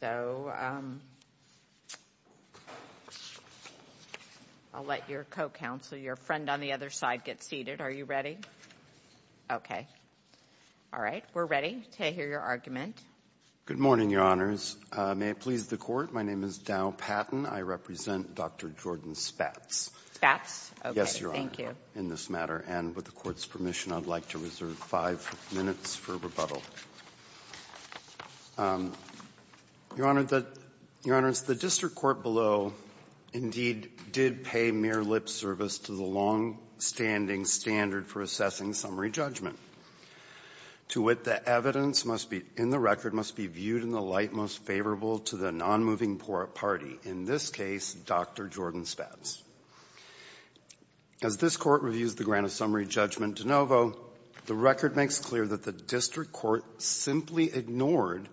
So I'll let your co-counsel, your friend on the other side, get seated. Are you ready? Okay. All right. We're ready to hear your argument. Good morning, Your Honors. May it please the Court, my name is Dow Patton. I represent Dr. Jordan Spatz. Spatz? Yes, Your Honor. Thank you. In this matter and with the court's for rebuttal. Your Honor, the District Court below, indeed, did pay mere lip service to the long-standing standard for assessing summary judgment. To wit, the evidence must be, in the record, must be viewed in the light most favorable to the nonmoving party, in this case, Dr. Jordan Spatz. As this Court reviews the case, it is clear that the District Court simply ignored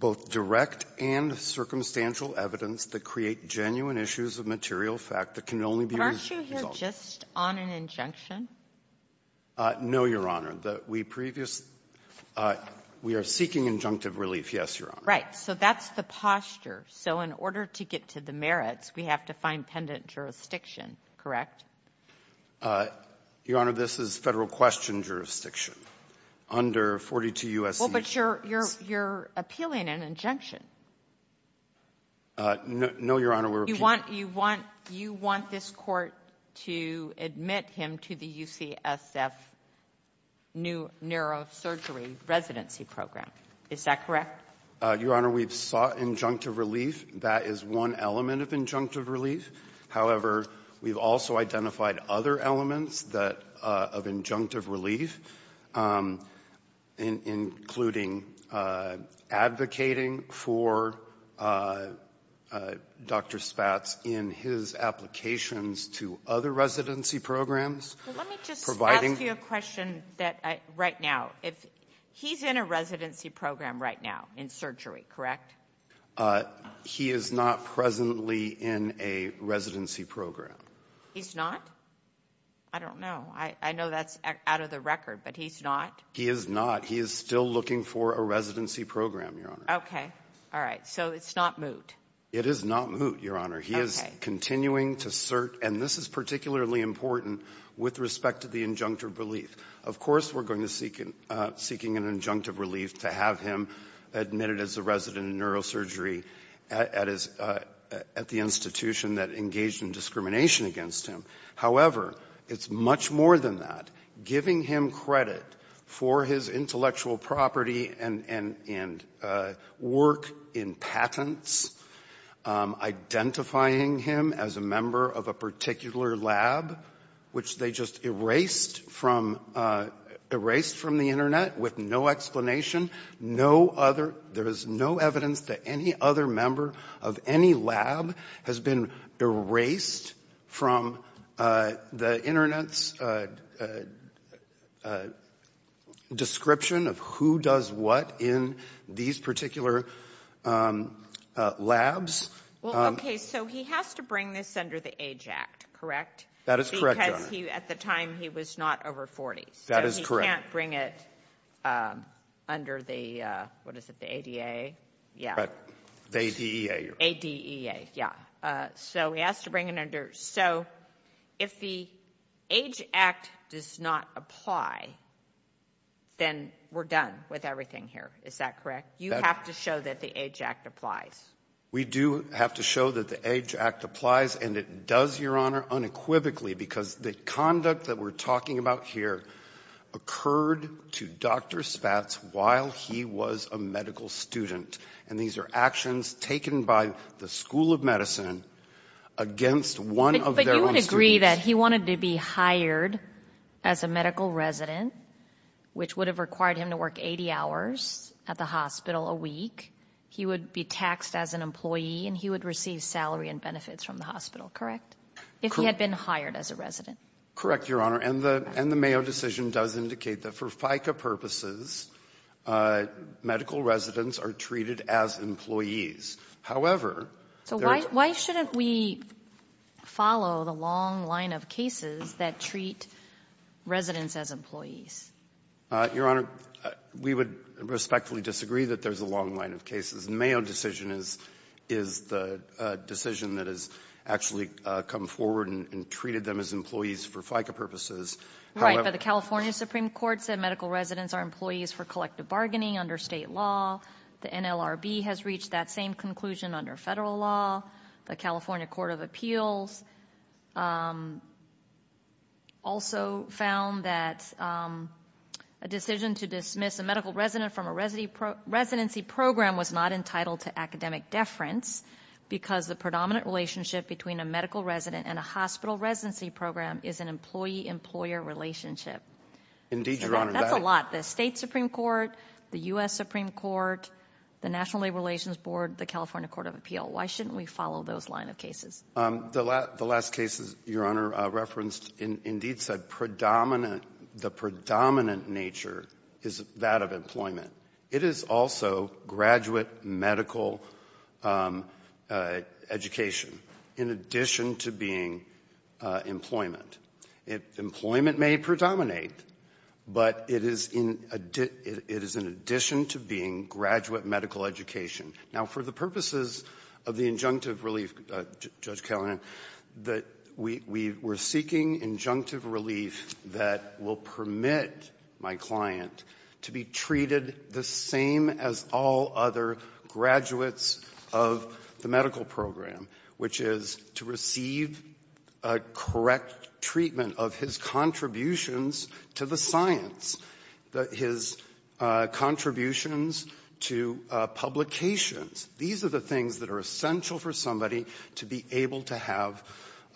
both direct and circumstantial evidence that create genuine issues of material fact that can only be resolved. But aren't you here just on an injunction? No, Your Honor. We previous we are seeking injunctive relief, yes, Your Honor. Right. So that's the posture. So in order to get to the merits, we have to find pendent jurisdiction, correct? Your Honor, this is Federal question jurisdiction under 42 U.S.C. Well, but you're, you're, you're appealing an injunction. No, Your Honor, we're appealing. You want, you want, you want this Court to admit him to the UCSF Neurosurgery Residency Program. Is that correct? Your Honor, we've sought injunctive relief. That is one element of injunctive relief, including advocating for Dr. Spatz in his applications to other residency programs, providing. Let me just ask you a question that I, right now, if, he's in a residency program right now in surgery, correct? He is not presently in a residency program. He's not? I don't know. I, I know that's out of the record, but he's not? He is not. He is still looking for a residency program, Your Honor. Okay. All right. So it's not moot. It is not moot, Your Honor. He is continuing to cert, and this is particularly important with respect to the injunctive relief. Of course, we're going to seek, seeking an injunctive relief to have him admitted as a resident in neurosurgery at, at his, at the institution that engaged in discrimination against him. However, it's much more than that. Giving him credit for his intellectual property and, and, and work in patents, identifying him as a member of a particular lab, which they just erased from, erased from the Internet with no explanation, no other, there is no evidence that any other member of any lab has been erased from the Internet's description of who does what in these particular labs. Well, okay, so he has to bring this under the Age Act, correct? That is correct, Your Honor. Because he, at the time, he was not over 40. That is correct. So he can't bring it under the, what is it, the ADA? Yeah. The ADEA. ADEA, yeah. So he has to bring it under. So if the Age Act does not apply, then we're done with everything here. Is that correct? You have to show that the Age Act applies. We do have to show that the Age Act applies, and it does, Your Honor. The conduct that we're talking about here occurred to Dr. Spatz while he was a medical student, and these are actions taken by the School of Medicine against one of their own students. But you would agree that he wanted to be hired as a medical resident, which would have required him to work 80 hours at the hospital a week, he would be taxed as an employee, and he would receive salary and benefits from the hospital, correct? If he had been hired as a resident. Correct, Your Honor. And the Mayo decision does indicate that for FICA purposes, medical residents are treated as employees. However, there are So why shouldn't we follow the long line of cases that treat residents as employees? Your Honor, we would respectfully disagree that there's a long line of cases. The Mayo decision is the decision that has actually come forward in treating them as employees for FICA purposes. Right, but the California Supreme Court said medical residents are employees for collective bargaining under state law. The NLRB has reached that same conclusion under federal law. The California Court of Appeals also found that a decision to dismiss a medical resident from a residency program was not entitled to academic merit, but that a medical residency program is an employee-employer relationship. Indeed, Your Honor. That's a lot. The State Supreme Court, the U.S. Supreme Court, the National Labor Relations Board, the California Court of Appeals. Why shouldn't we follow those line of cases? The last case, Your Honor, referenced, indeed said predominant, the predominant nature is that of employment. It is also graduate medical education in addition to being employment. Employment may predominate, but it is in addition to being graduate medical education. Now, for the purposes of the injunctive relief, Judge Kagan, that we were seeking injunctive relief that will permit my client to be treated the same as all other graduates of the medical program, which is to receive a correct treatment of his contributions to the science, his contributions to publications. These are the things that are essential for somebody to be able to have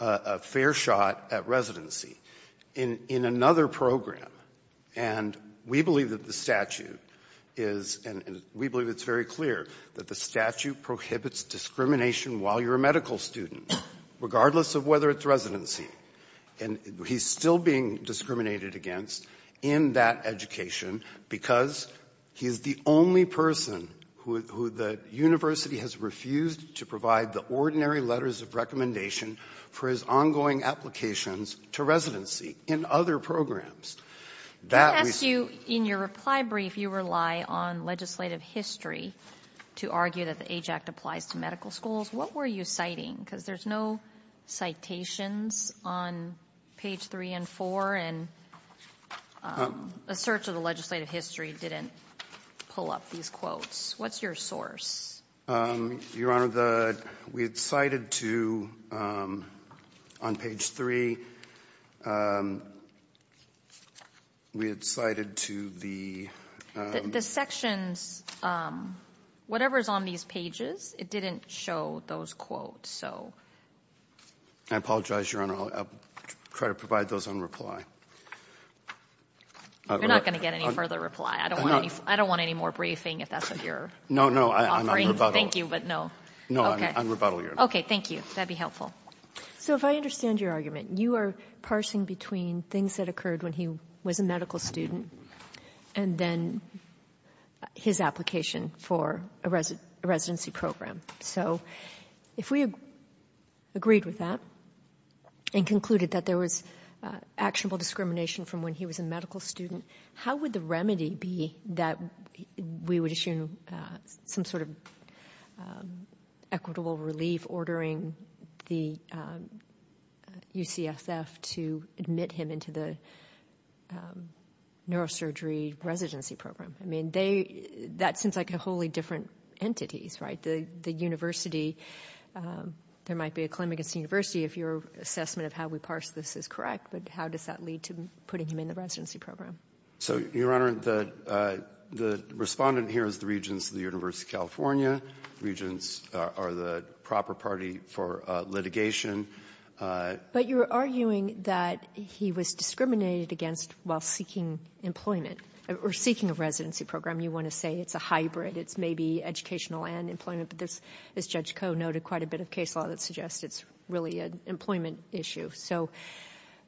a fair shot at residency. In another program, and we believe that the statute is, and we believe it's very clear, that the statute prohibits discrimination while you're a medical student, regardless of whether it's residency. And he's still being discriminated against in that education because he's the only person who the university has refused to provide the ordinary letters of recommendation for his ongoing applications to residency in other programs. That we see... I ask you, in your reply brief, you rely on legislative history to argue that the AJAC applies to medical schools. What were you citing? Because there's no citations on page 3 and 4, and a search of the legislative history didn't pull up these quotes. What's your source? Your Honor, we had cited to, on page 3, we had cited to the... The sections, whatever's on these pages, it didn't show those quotes. I apologize, Your Honor. I'll try to provide those in reply. You're not going to get any further reply. I don't want any more briefing if that's what you're offering. No, no, I'm rebuttal. Thank you, but no. No, I'm rebuttal, Your Honor. Okay. Thank you. That'd be helpful. So if I understand your argument, you are parsing between things that occurred when he was a medical student and then his application for a residency program. So if we agreed with that and concluded that there was actionable discrimination from when he was a medical student, how would the remedy be that we would issue some sort of equitable relief ordering the UCSF to admit him into the neurosurgery residency program? I mean, that seems like a wholly different entities, right? The university, there might be a claim against the university if your assessment of how we parse this is correct, but how does that lead to putting him in the residency program? So, Your Honor, the respondent here is the Regents of the University of California. Regents are the proper party for litigation. But you're arguing that he was discriminated against while seeking employment or seeking a residency program. You want to say it's a hybrid, it's maybe educational and employment, but as Judge Koh noted, quite a bit of case law that suggests it's really an employment issue. So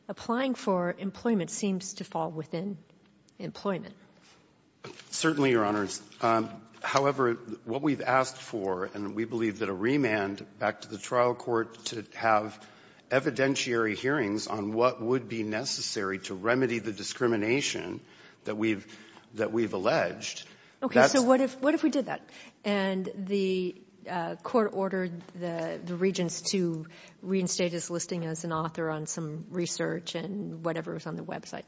applying for employment seems to fall within employment. Certainly, Your Honor. However, what we've asked for, and we believe that a remand back to the trial court to have evidentiary hearings on what would be necessary to remedy the discrimination that we've alleged. Okay, so what if we did that? And the court ordered the regents to reinstate his listing as an author on some research and whatever was on the website.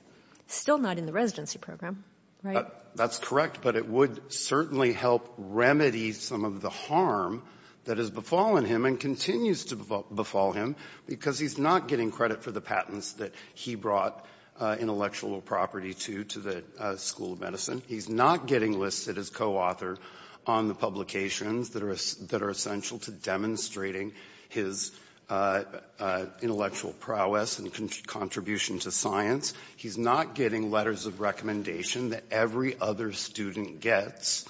Still not in the residency program, right? That's correct, but it would certainly help remedy some of the harm that has befallen him and continues to befall him because he's not getting credit for the patents that he brought intellectual property to to the School of Medicine. He's not getting listed as co-author on the publications that are essential to demonstrating his intellectual prowess and contribution to science. He's not getting letters of recommendation that every other student gets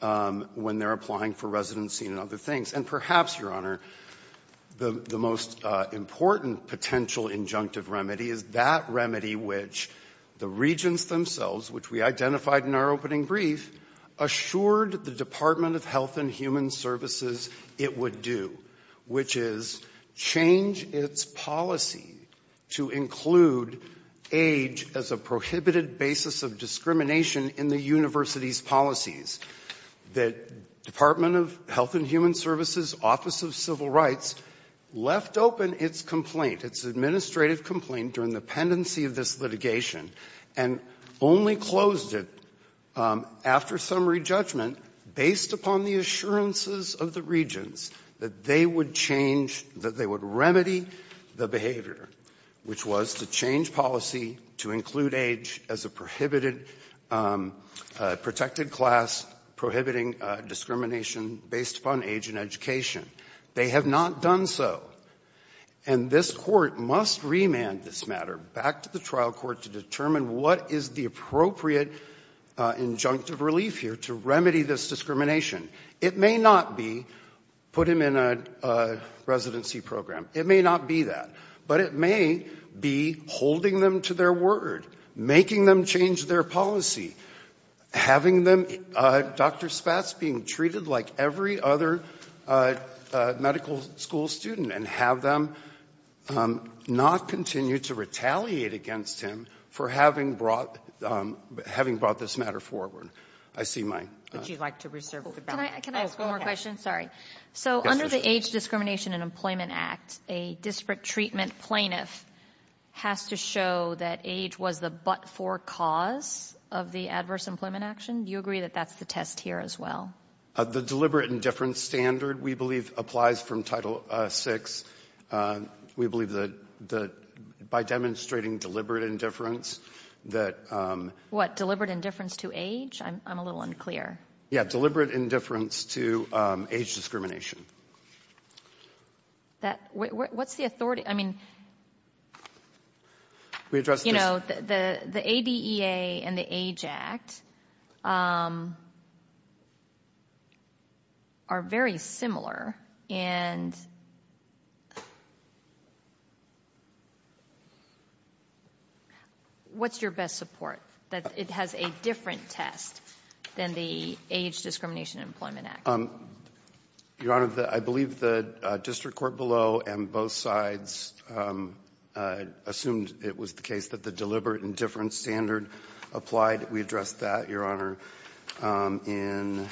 when they're applying for residency and other things. And perhaps, Your Honor, the most important potential injunctive remedy is that remedy which the regents themselves, which we identified in our opening brief, assured the Department of Health and Human Services it would do, which is change its policy to include age as a prohibited basis of discrimination in the university's policies. The Department of Health and Human Services Office of Civil Rights left open its complaint, its administrative complaint during the pendency of this litigation and only closed it after summary judgment based upon the assurances of the regents that they would change, that they would remedy the behavior, which was to change remand this matter back to the trial court to determine what is the appropriate injunctive relief here to remedy this discrimination. It may not be put him in a residency program. It may not be that. But it may be holding them to their word, making them change their policy, having them Dr. Spatz being treated like every other medical school student and have them not continue to retaliate against him for having brought this matter forward. I see my ---- Would you like to reserve the balance? Can I ask one more question? Sorry. So under the Age Discrimination and Employment Act, a district treatment plaintiff has to show that age was the but-for cause of the adverse employment action. Do you agree that that's the test here as well? The deliberate indifference standard, we believe, applies from Title VI. We believe that by demonstrating deliberate indifference that ---- What, deliberate indifference to age? I'm a little unclear. Yes, deliberate indifference to age discrimination. What's the authority? I mean, you know, the ADEA and the Age Act are very similar. And what's your best support that it has a different test than the Age Discrimination and Employment Act? Your Honor, the ---- I believe the district court below and both sides assumed it was the case that the deliberate indifference standard applied. We addressed that, Your Honor, in ----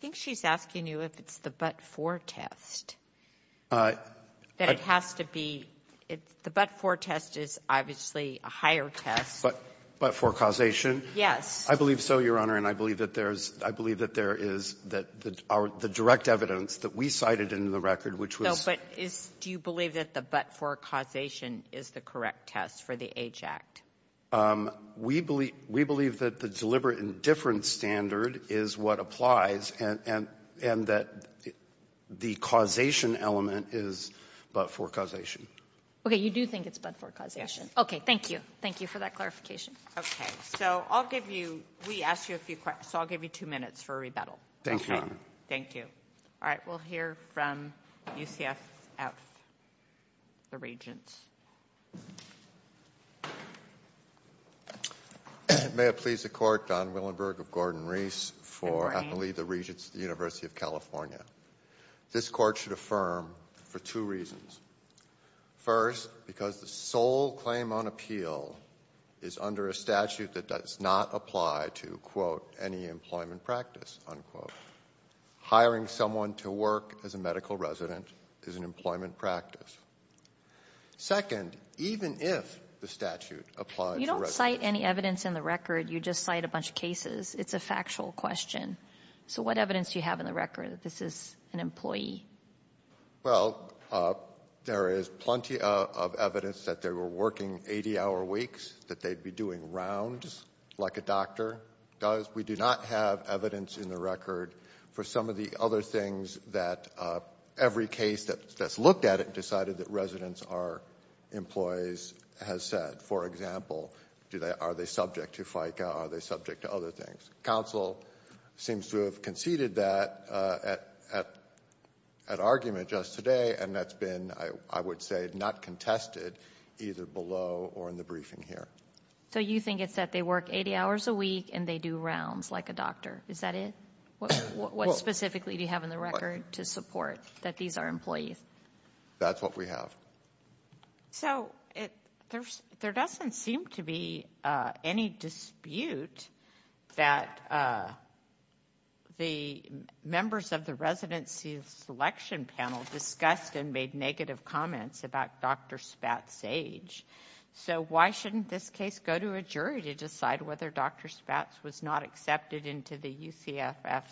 I think she's asking you if it's the but-for test, that it has to be ---- the but-for test is obviously a higher test. But-for causation? Yes. I believe so, Your Honor, and I believe that there is the direct evidence that we cited in the record, which was ---- No, but is do you believe that the but-for causation is the correct test for the Age Act? We believe that the deliberate indifference standard is what applies and that the causation element is but-for causation. Okay. You do think it's but-for causation? Yes. Okay. Thank you. Thank you for that clarification. Okay. So I'll give you ---- we asked you a few questions, so I'll give you two minutes for rebuttal. Thank you, Your Honor. Thank you. All right. We'll hear from UCSF, the Regents. May it please the Court, Don Willenberg of Gordon-Reese for ---- Good morning. I believe the Regents of the University of California. This Court should affirm for two reasons. First, because the sole claim on appeal is under a statute that does not apply to, quote, any employment practice, unquote. Hiring someone to work as a medical resident is an employment practice. Second, even if the statute applies ---- You don't cite any evidence in the record. You just cite a bunch of cases. It's a factual question. So what evidence do you have in the record that this is an employee? Well, there is plenty of evidence that they were working 80-hour weeks, that they'd be doing rounds like a doctor does. We do not have evidence in the record for some of the other things that every case that's looked at it and decided that residents are employees has said. For example, are they subject to FICA? Are they subject to other things? Council seems to have conceded that at argument just today, and that's been, I would say, not contested either below or in the briefing here. So you think it's that they work 80 hours a week and they do rounds like a doctor? Is that it? What specifically do you have in the record to support that these are employees? That's what we have. So there doesn't seem to be any dispute that the members of the residency selection panel discussed and made negative comments about Dr. Spatz's age. So why shouldn't this case go to a jury to decide whether Dr. Spatz was not accepted into the UCFF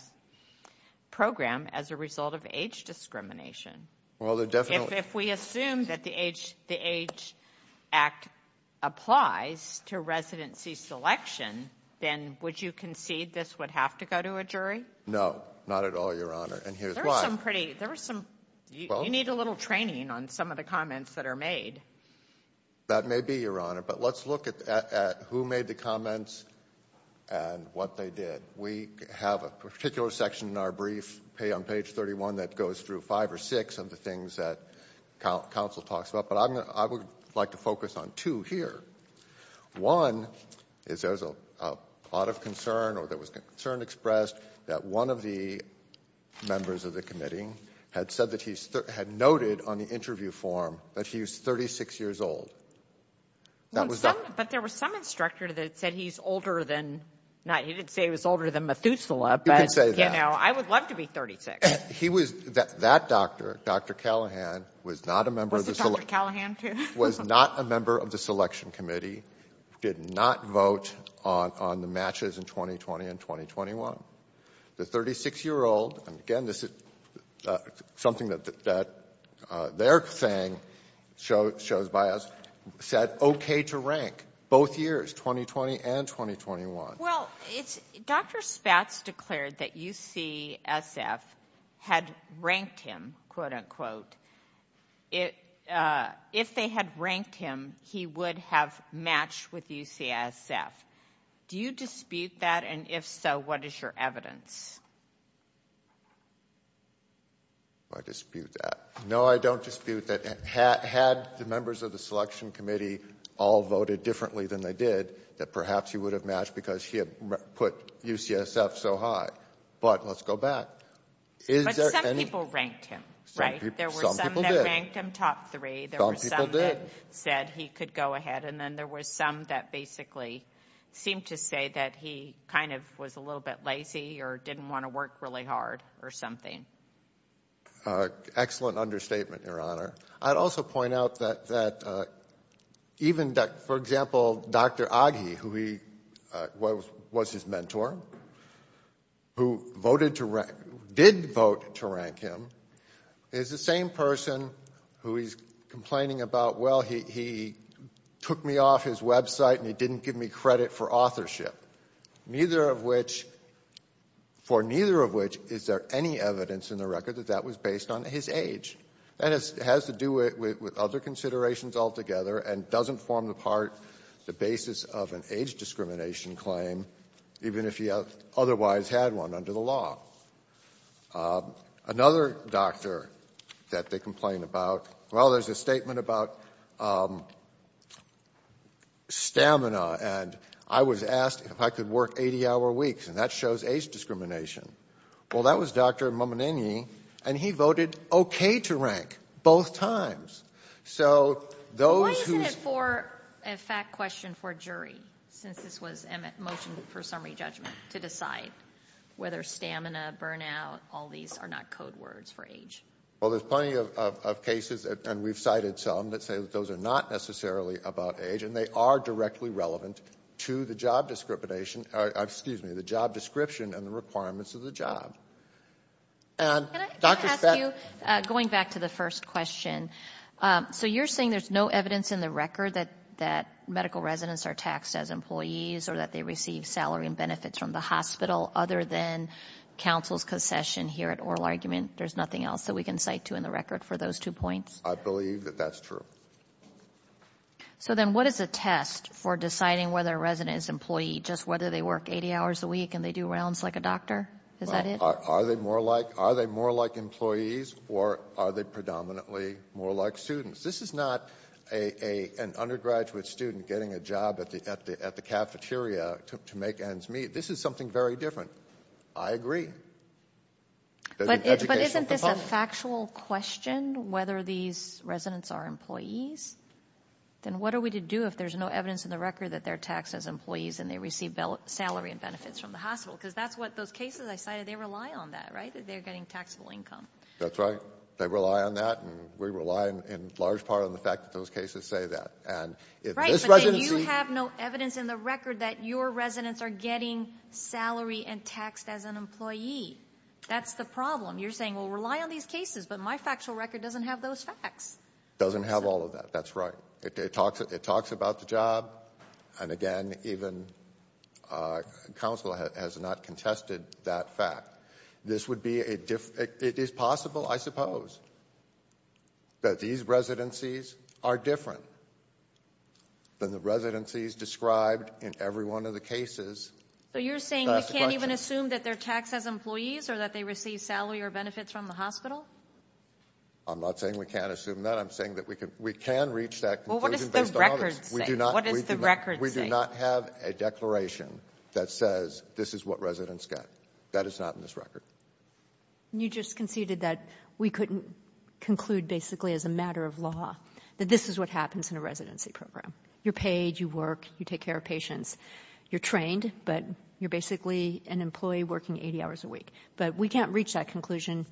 program as a result of age discrimination? If we assume that the Age Act applies to residency selection, then would you concede this would have to go to a jury? No, not at all, Your Honor, and here's why. You need a little training on some of the comments that are made. That may be, Your Honor, but let's look at who made the comments and what they did. We have a particular section in our brief on page 31 that goes through five or six of the things that counsel talks about, but I would like to focus on two here. One is there's a lot of concern or there was concern expressed that one of the members of the committee had noted on the interview form that he was 36 years old. But there was some instructor that said he's older than, he didn't say he was older than Methuselah, but I would love to be 36. That doctor, Dr. Callahan, was not a member of the selection committee, did not vote on the matches in 2020 and 2021. The 36-year-old, and again this is something that their thing shows by us, said okay to rank both years, 2020 and 2021. Well, Dr. Spatz declared that UCSF had ranked him, quote-unquote. If they had ranked him, he would have matched with UCSF. Do you dispute that, and if so, what is your evidence? I dispute that. No, I don't dispute that. Had the members of the selection committee all voted differently than they did, that perhaps he would have matched because he had put UCSF so high. But let's go back. But some people ranked him, right? Some people did. There were some that ranked him top three. Some people did. There were some that said he could go ahead, and then there were some that basically seemed to say that he kind of was a little bit lazy or didn't want to work really hard or something. Excellent understatement, Your Honor. I'd also point out that even, for example, Dr. Aghi, who was his mentor, who did vote to rank him, is the same person who he's complaining about, well, he took me off his website and he didn't give me credit for authorship, for neither of which is there any evidence in the record that that was based on his age. That has to do with other considerations altogether and doesn't form the part, the basis of an age discrimination claim, even if he otherwise had one under the law. Another doctor that they complain about, well, there's a statement about stamina, and I was asked if I could work 80-hour weeks, and that shows age discrimination. Well, that was Dr. Mominenyi, and he voted okay to rank both times. So those who ---- Why isn't it a fact question for a jury, since this was a motion for summary judgment, to decide whether stamina, burnout, all these are not code words for age? Well, there's plenty of cases, and we've cited some, that say that those are not necessarily about age, and they are directly relevant to the job description and the requirements of the job. Can I ask you, going back to the first question, so you're saying there's no evidence in the record that medical residents are taxed as employees or that they receive salary and benefits from the hospital, other than counsel's concession here at oral argument? There's nothing else that we can cite to in the record for those two points? I believe that that's true. So then what is a test for deciding whether a resident is an employee, just whether they work 80 hours a week and they do rounds like a doctor? Is that it? Are they more like employees, or are they predominantly more like students? This is not an undergraduate student getting a job at the cafeteria to make ends meet. This is something very different. I agree. But isn't this a factual question, whether these residents are employees? Then what are we to do if there's no evidence in the record that they're taxed as employees and they receive salary and benefits from the hospital? Because that's what those cases I cited, they rely on that, right, that they're getting taxable income. That's right. They rely on that, and we rely in large part on the fact that those cases say that. Right, but then you have no evidence in the record that your residents are getting salary and taxed as an employee. That's the problem. You're saying, well, rely on these cases, but my factual record doesn't have those facts. It doesn't have all of that. That's right. It talks about the job, and again, even counsel has not contested that fact. It is possible, I suppose, that these residencies are different than the residencies described in every one of the cases. So you're saying we can't even assume that they're taxed as employees or that they receive salary or benefits from the hospital? I'm not saying we can't assume that. I'm saying that we can reach that conclusion based on all this. Well, what does the record say? We do not have a declaration that says this is what residents get. That is not in this record. You just conceded that we couldn't conclude basically as a matter of law that this is what happens in a residency program. You're paid. You work. You take care of patients. You're trained, but you're basically an employee working 80 hours a week. But we can't reach that conclusion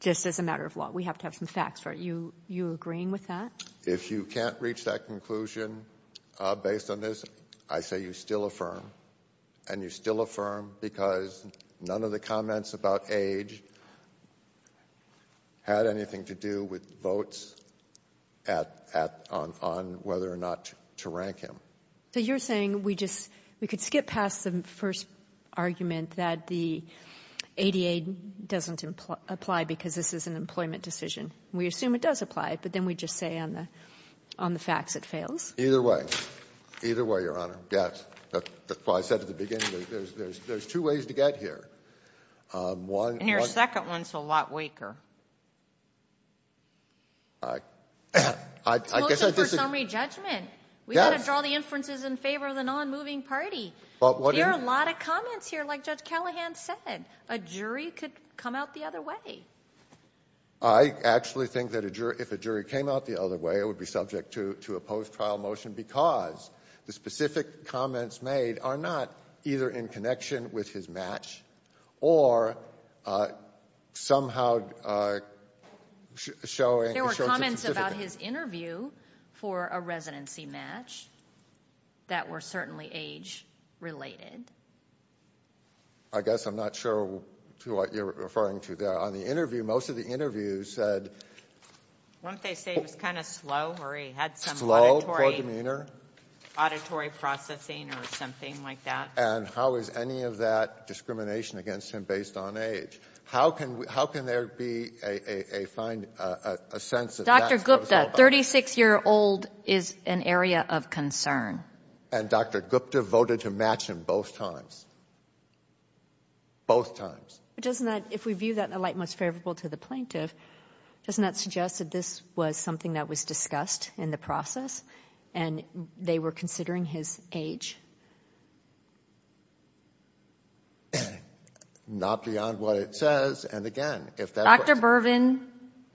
just as a matter of law. We have to have some facts. Are you agreeing with that? If you can't reach that conclusion based on this, I say you still affirm, and you still affirm because none of the comments about age had anything to do with votes on whether or not to rank him. So you're saying we just we could skip past the first argument that the ADA doesn't apply because this is an employment decision. We assume it does apply, but then we just say on the facts it fails. Either way. Either way, Your Honor. Yes. That's what I said at the beginning. There's two ways to get here. One. And your second one is a lot weaker. I guess I disagree. It's a motion for summary judgment. Yes. We've got to draw the inferences in favor of the non-moving party. There are a lot of comments here. Like Judge Callahan said, a jury could come out the other way. I actually think that if a jury came out the other way, it would be subject to a post-trial motion because the specific comments made are not either in connection with his match or somehow showing a short certificate. There were comments about his interview for a residency match that were certainly age-related. I guess I'm not sure to what you're referring to there. On the interview, most of the interviews said he was kind of slow or he had some auditory processing or something like that. And how is any of that discrimination against him based on age? How can there be a sense of that? Dr. Gupta, 36-year-old is an area of concern. And Dr. Gupta voted to match him both times. Both times. But doesn't that, if we view that in a light most favorable to the plaintiff, doesn't that suggest that this was something that was discussed in the process and they were considering his age? Not beyond what it says. And, again, if that's what's— Dr. Bervin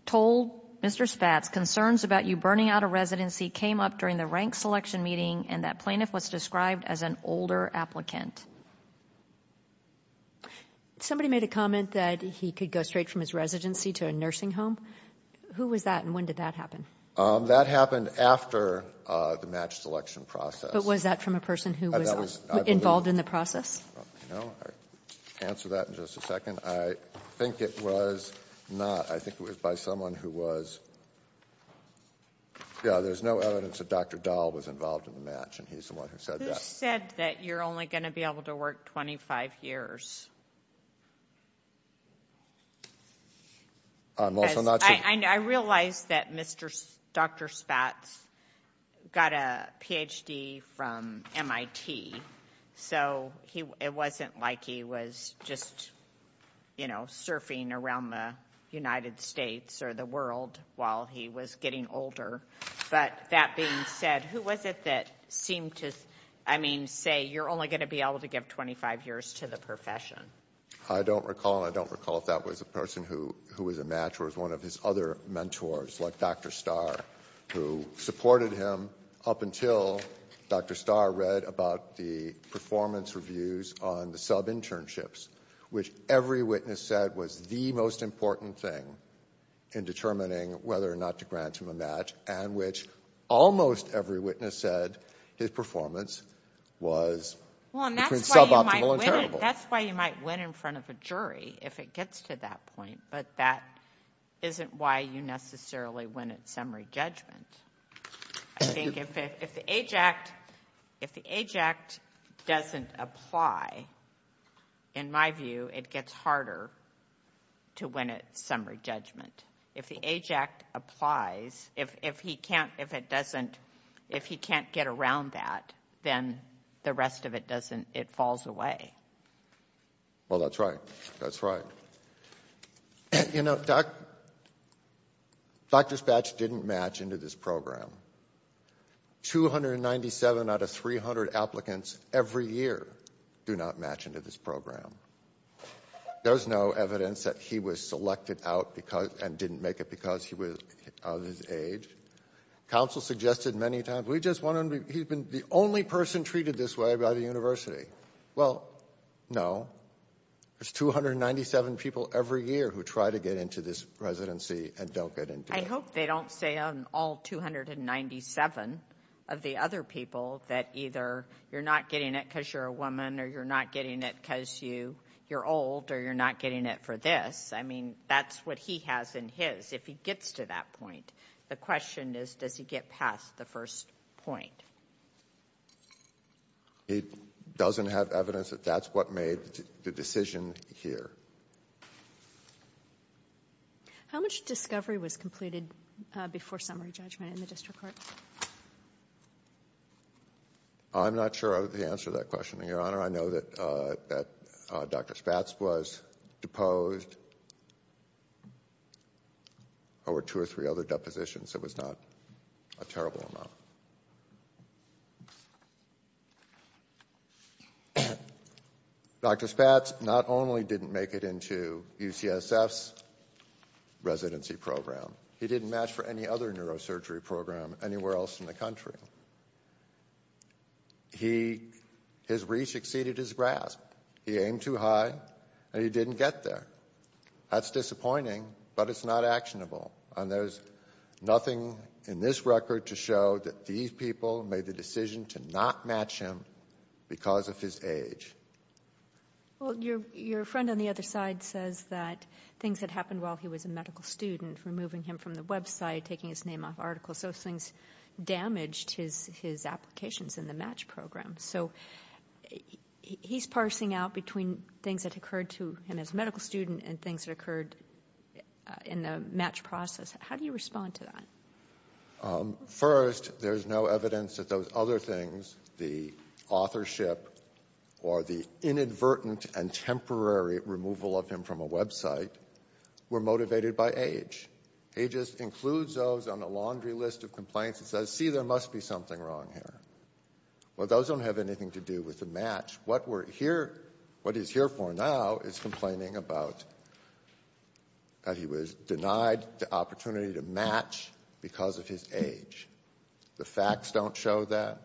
told Mr. Spatz, Concerns about you burning out a residency came up during the rank selection meeting and that plaintiff was described as an older applicant. Somebody made a comment that he could go straight from his residency to a nursing home. Who was that and when did that happen? That happened after the match selection process. But was that from a person who was involved in the process? No. I'll answer that in just a second. I think it was not. I think it was by someone who was — yeah, there's no evidence that Dr. Dahl was involved in the match. And he's the one who said that. Who said that you're only going to be able to work 25 years? I realize that Dr. Spatz got a Ph.D. from MIT, so it wasn't like he was just, you know, surfing around the United States or the world while he was getting older. But that being said, who was it that seemed to, I mean, say you're only going to be able to give 25 years to the profession? I don't recall. I don't recall if that was a person who was a match or was one of his other mentors like Dr. Starr, who supported him up until Dr. Starr read about the performance reviews on the sub-internships, which every witness said was the most important thing in determining whether or not to grant him a match, and which almost every witness said his performance was between suboptimal and terrible. Well, and that's why you might win in front of a jury if it gets to that point, but that isn't why you necessarily win at summary judgment. I think if the AJACT doesn't apply, in my view, it gets harder to win at summary judgment. If the AJACT applies, if he can't get around that, then the rest of it falls away. Well, that's right. That's right. You know, Dr. Spatz didn't match into this program. 297 out of 300 applicants every year do not match into this program. There's no evidence that he was selected out and didn't make it because he was of his age. Counsel suggested many times, he's been the only person treated this way by the university. Well, no. There's 297 people every year who try to get into this residency and don't get into it. I hope they don't say on all 297 of the other people that either you're not getting it because you're a woman or you're not getting it because you're old or you're not getting it for this. I mean, that's what he has in his, if he gets to that point. The question is, does he get past the first point? He doesn't have evidence that that's what made the decision here. How much discovery was completed before summary judgment in the district court? I'm not sure of the answer to that question, Your Honor. I know that Dr. Spatz was deposed over two or three other depositions. It was not a terrible amount. Dr. Spatz not only didn't make it into UCSF's residency program, he didn't match for any other neurosurgery program anywhere else in the country. His reach exceeded his grasp. He aimed too high and he didn't get there. That's disappointing, but it's not actionable. And there's nothing in this record to show that these people made the decision to not match him because of his age. Well, your friend on the other side says that things that happened while he was a medical student, removing him from the website, taking his name off articles, those things damaged his applications in the MATCH program. So he's parsing out between things that occurred to him as a medical student and things that occurred in the MATCH process. How do you respond to that? First, there's no evidence that those other things, the authorship or the inadvertent and temporary removal of him from a website, were motivated by age. He just includes those on a laundry list of complaints and says, see, there must be something wrong here. Well, those don't have anything to do with the MATCH. What we're here, what he's here for now is complaining about that he was denied the opportunity to match because of his age. The facts don't show that.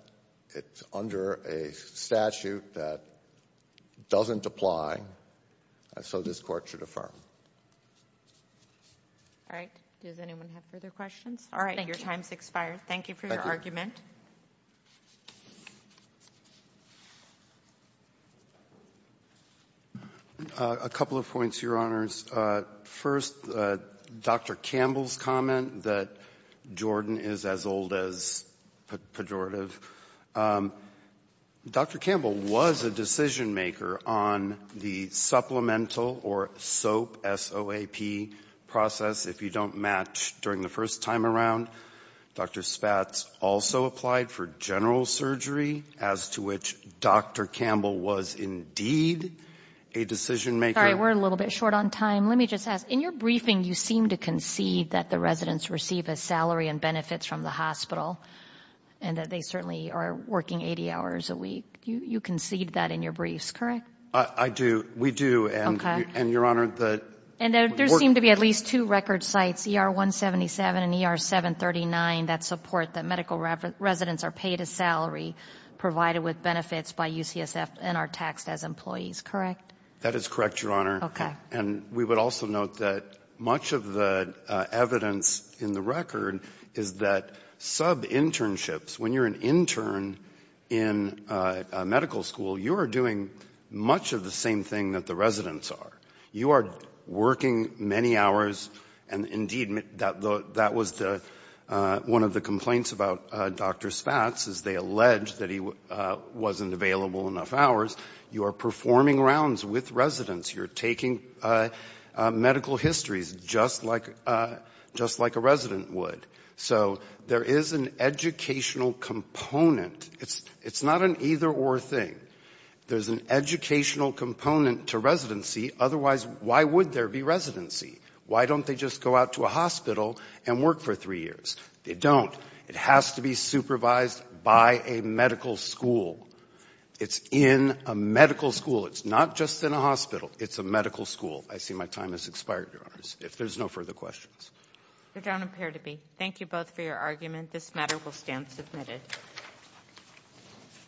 It's under a statute that doesn't apply. So this court should affirm. All right. Does anyone have further questions? All right. Your time's expired. Thank you for your argument. A couple of points, Your Honors. First, Dr. Campbell's comment that Jordan is as old as pejorative. Dr. Campbell was a decision-maker on the supplemental or SOAP, S-O-A-P, process. If you don't match during the first time around, Dr. Spatz also applied for general surgery, as to which Dr. Campbell was indeed a decision-maker. Sorry, we're a little bit short on time. Let me just ask, in your briefing, you seem to concede that the residents receive a salary and benefits from the hospital and that they certainly are working 80 hours a week. You concede that in your briefs, correct? I do. We do. Okay. And there seem to be at least two record sites, ER-177 and ER-739, that support that medical residents are paid a salary provided with benefits by UCSF and are taxed as employees, correct? That is correct, Your Honor. Okay. And we would also note that much of the evidence in the record is that sub-internships, when you're an intern in a medical school, you are doing much of the same thing that the residents are. You are working many hours, and indeed that was one of the complaints about Dr. Spatz, is they allege that he wasn't available enough hours. You are performing rounds with residents. You're taking medical histories just like a resident would. So there is an educational component. It's not an either-or thing. There's an educational component to residency. Otherwise, why would there be residency? Why don't they just go out to a hospital and work for three years? They don't. It has to be supervised by a medical school. It's in a medical school. It's not just in a hospital. It's a medical school. I see my time has expired, Your Honors. If there's no further questions. There don't appear to be. Thank you both for your argument. This matter will stand submitted.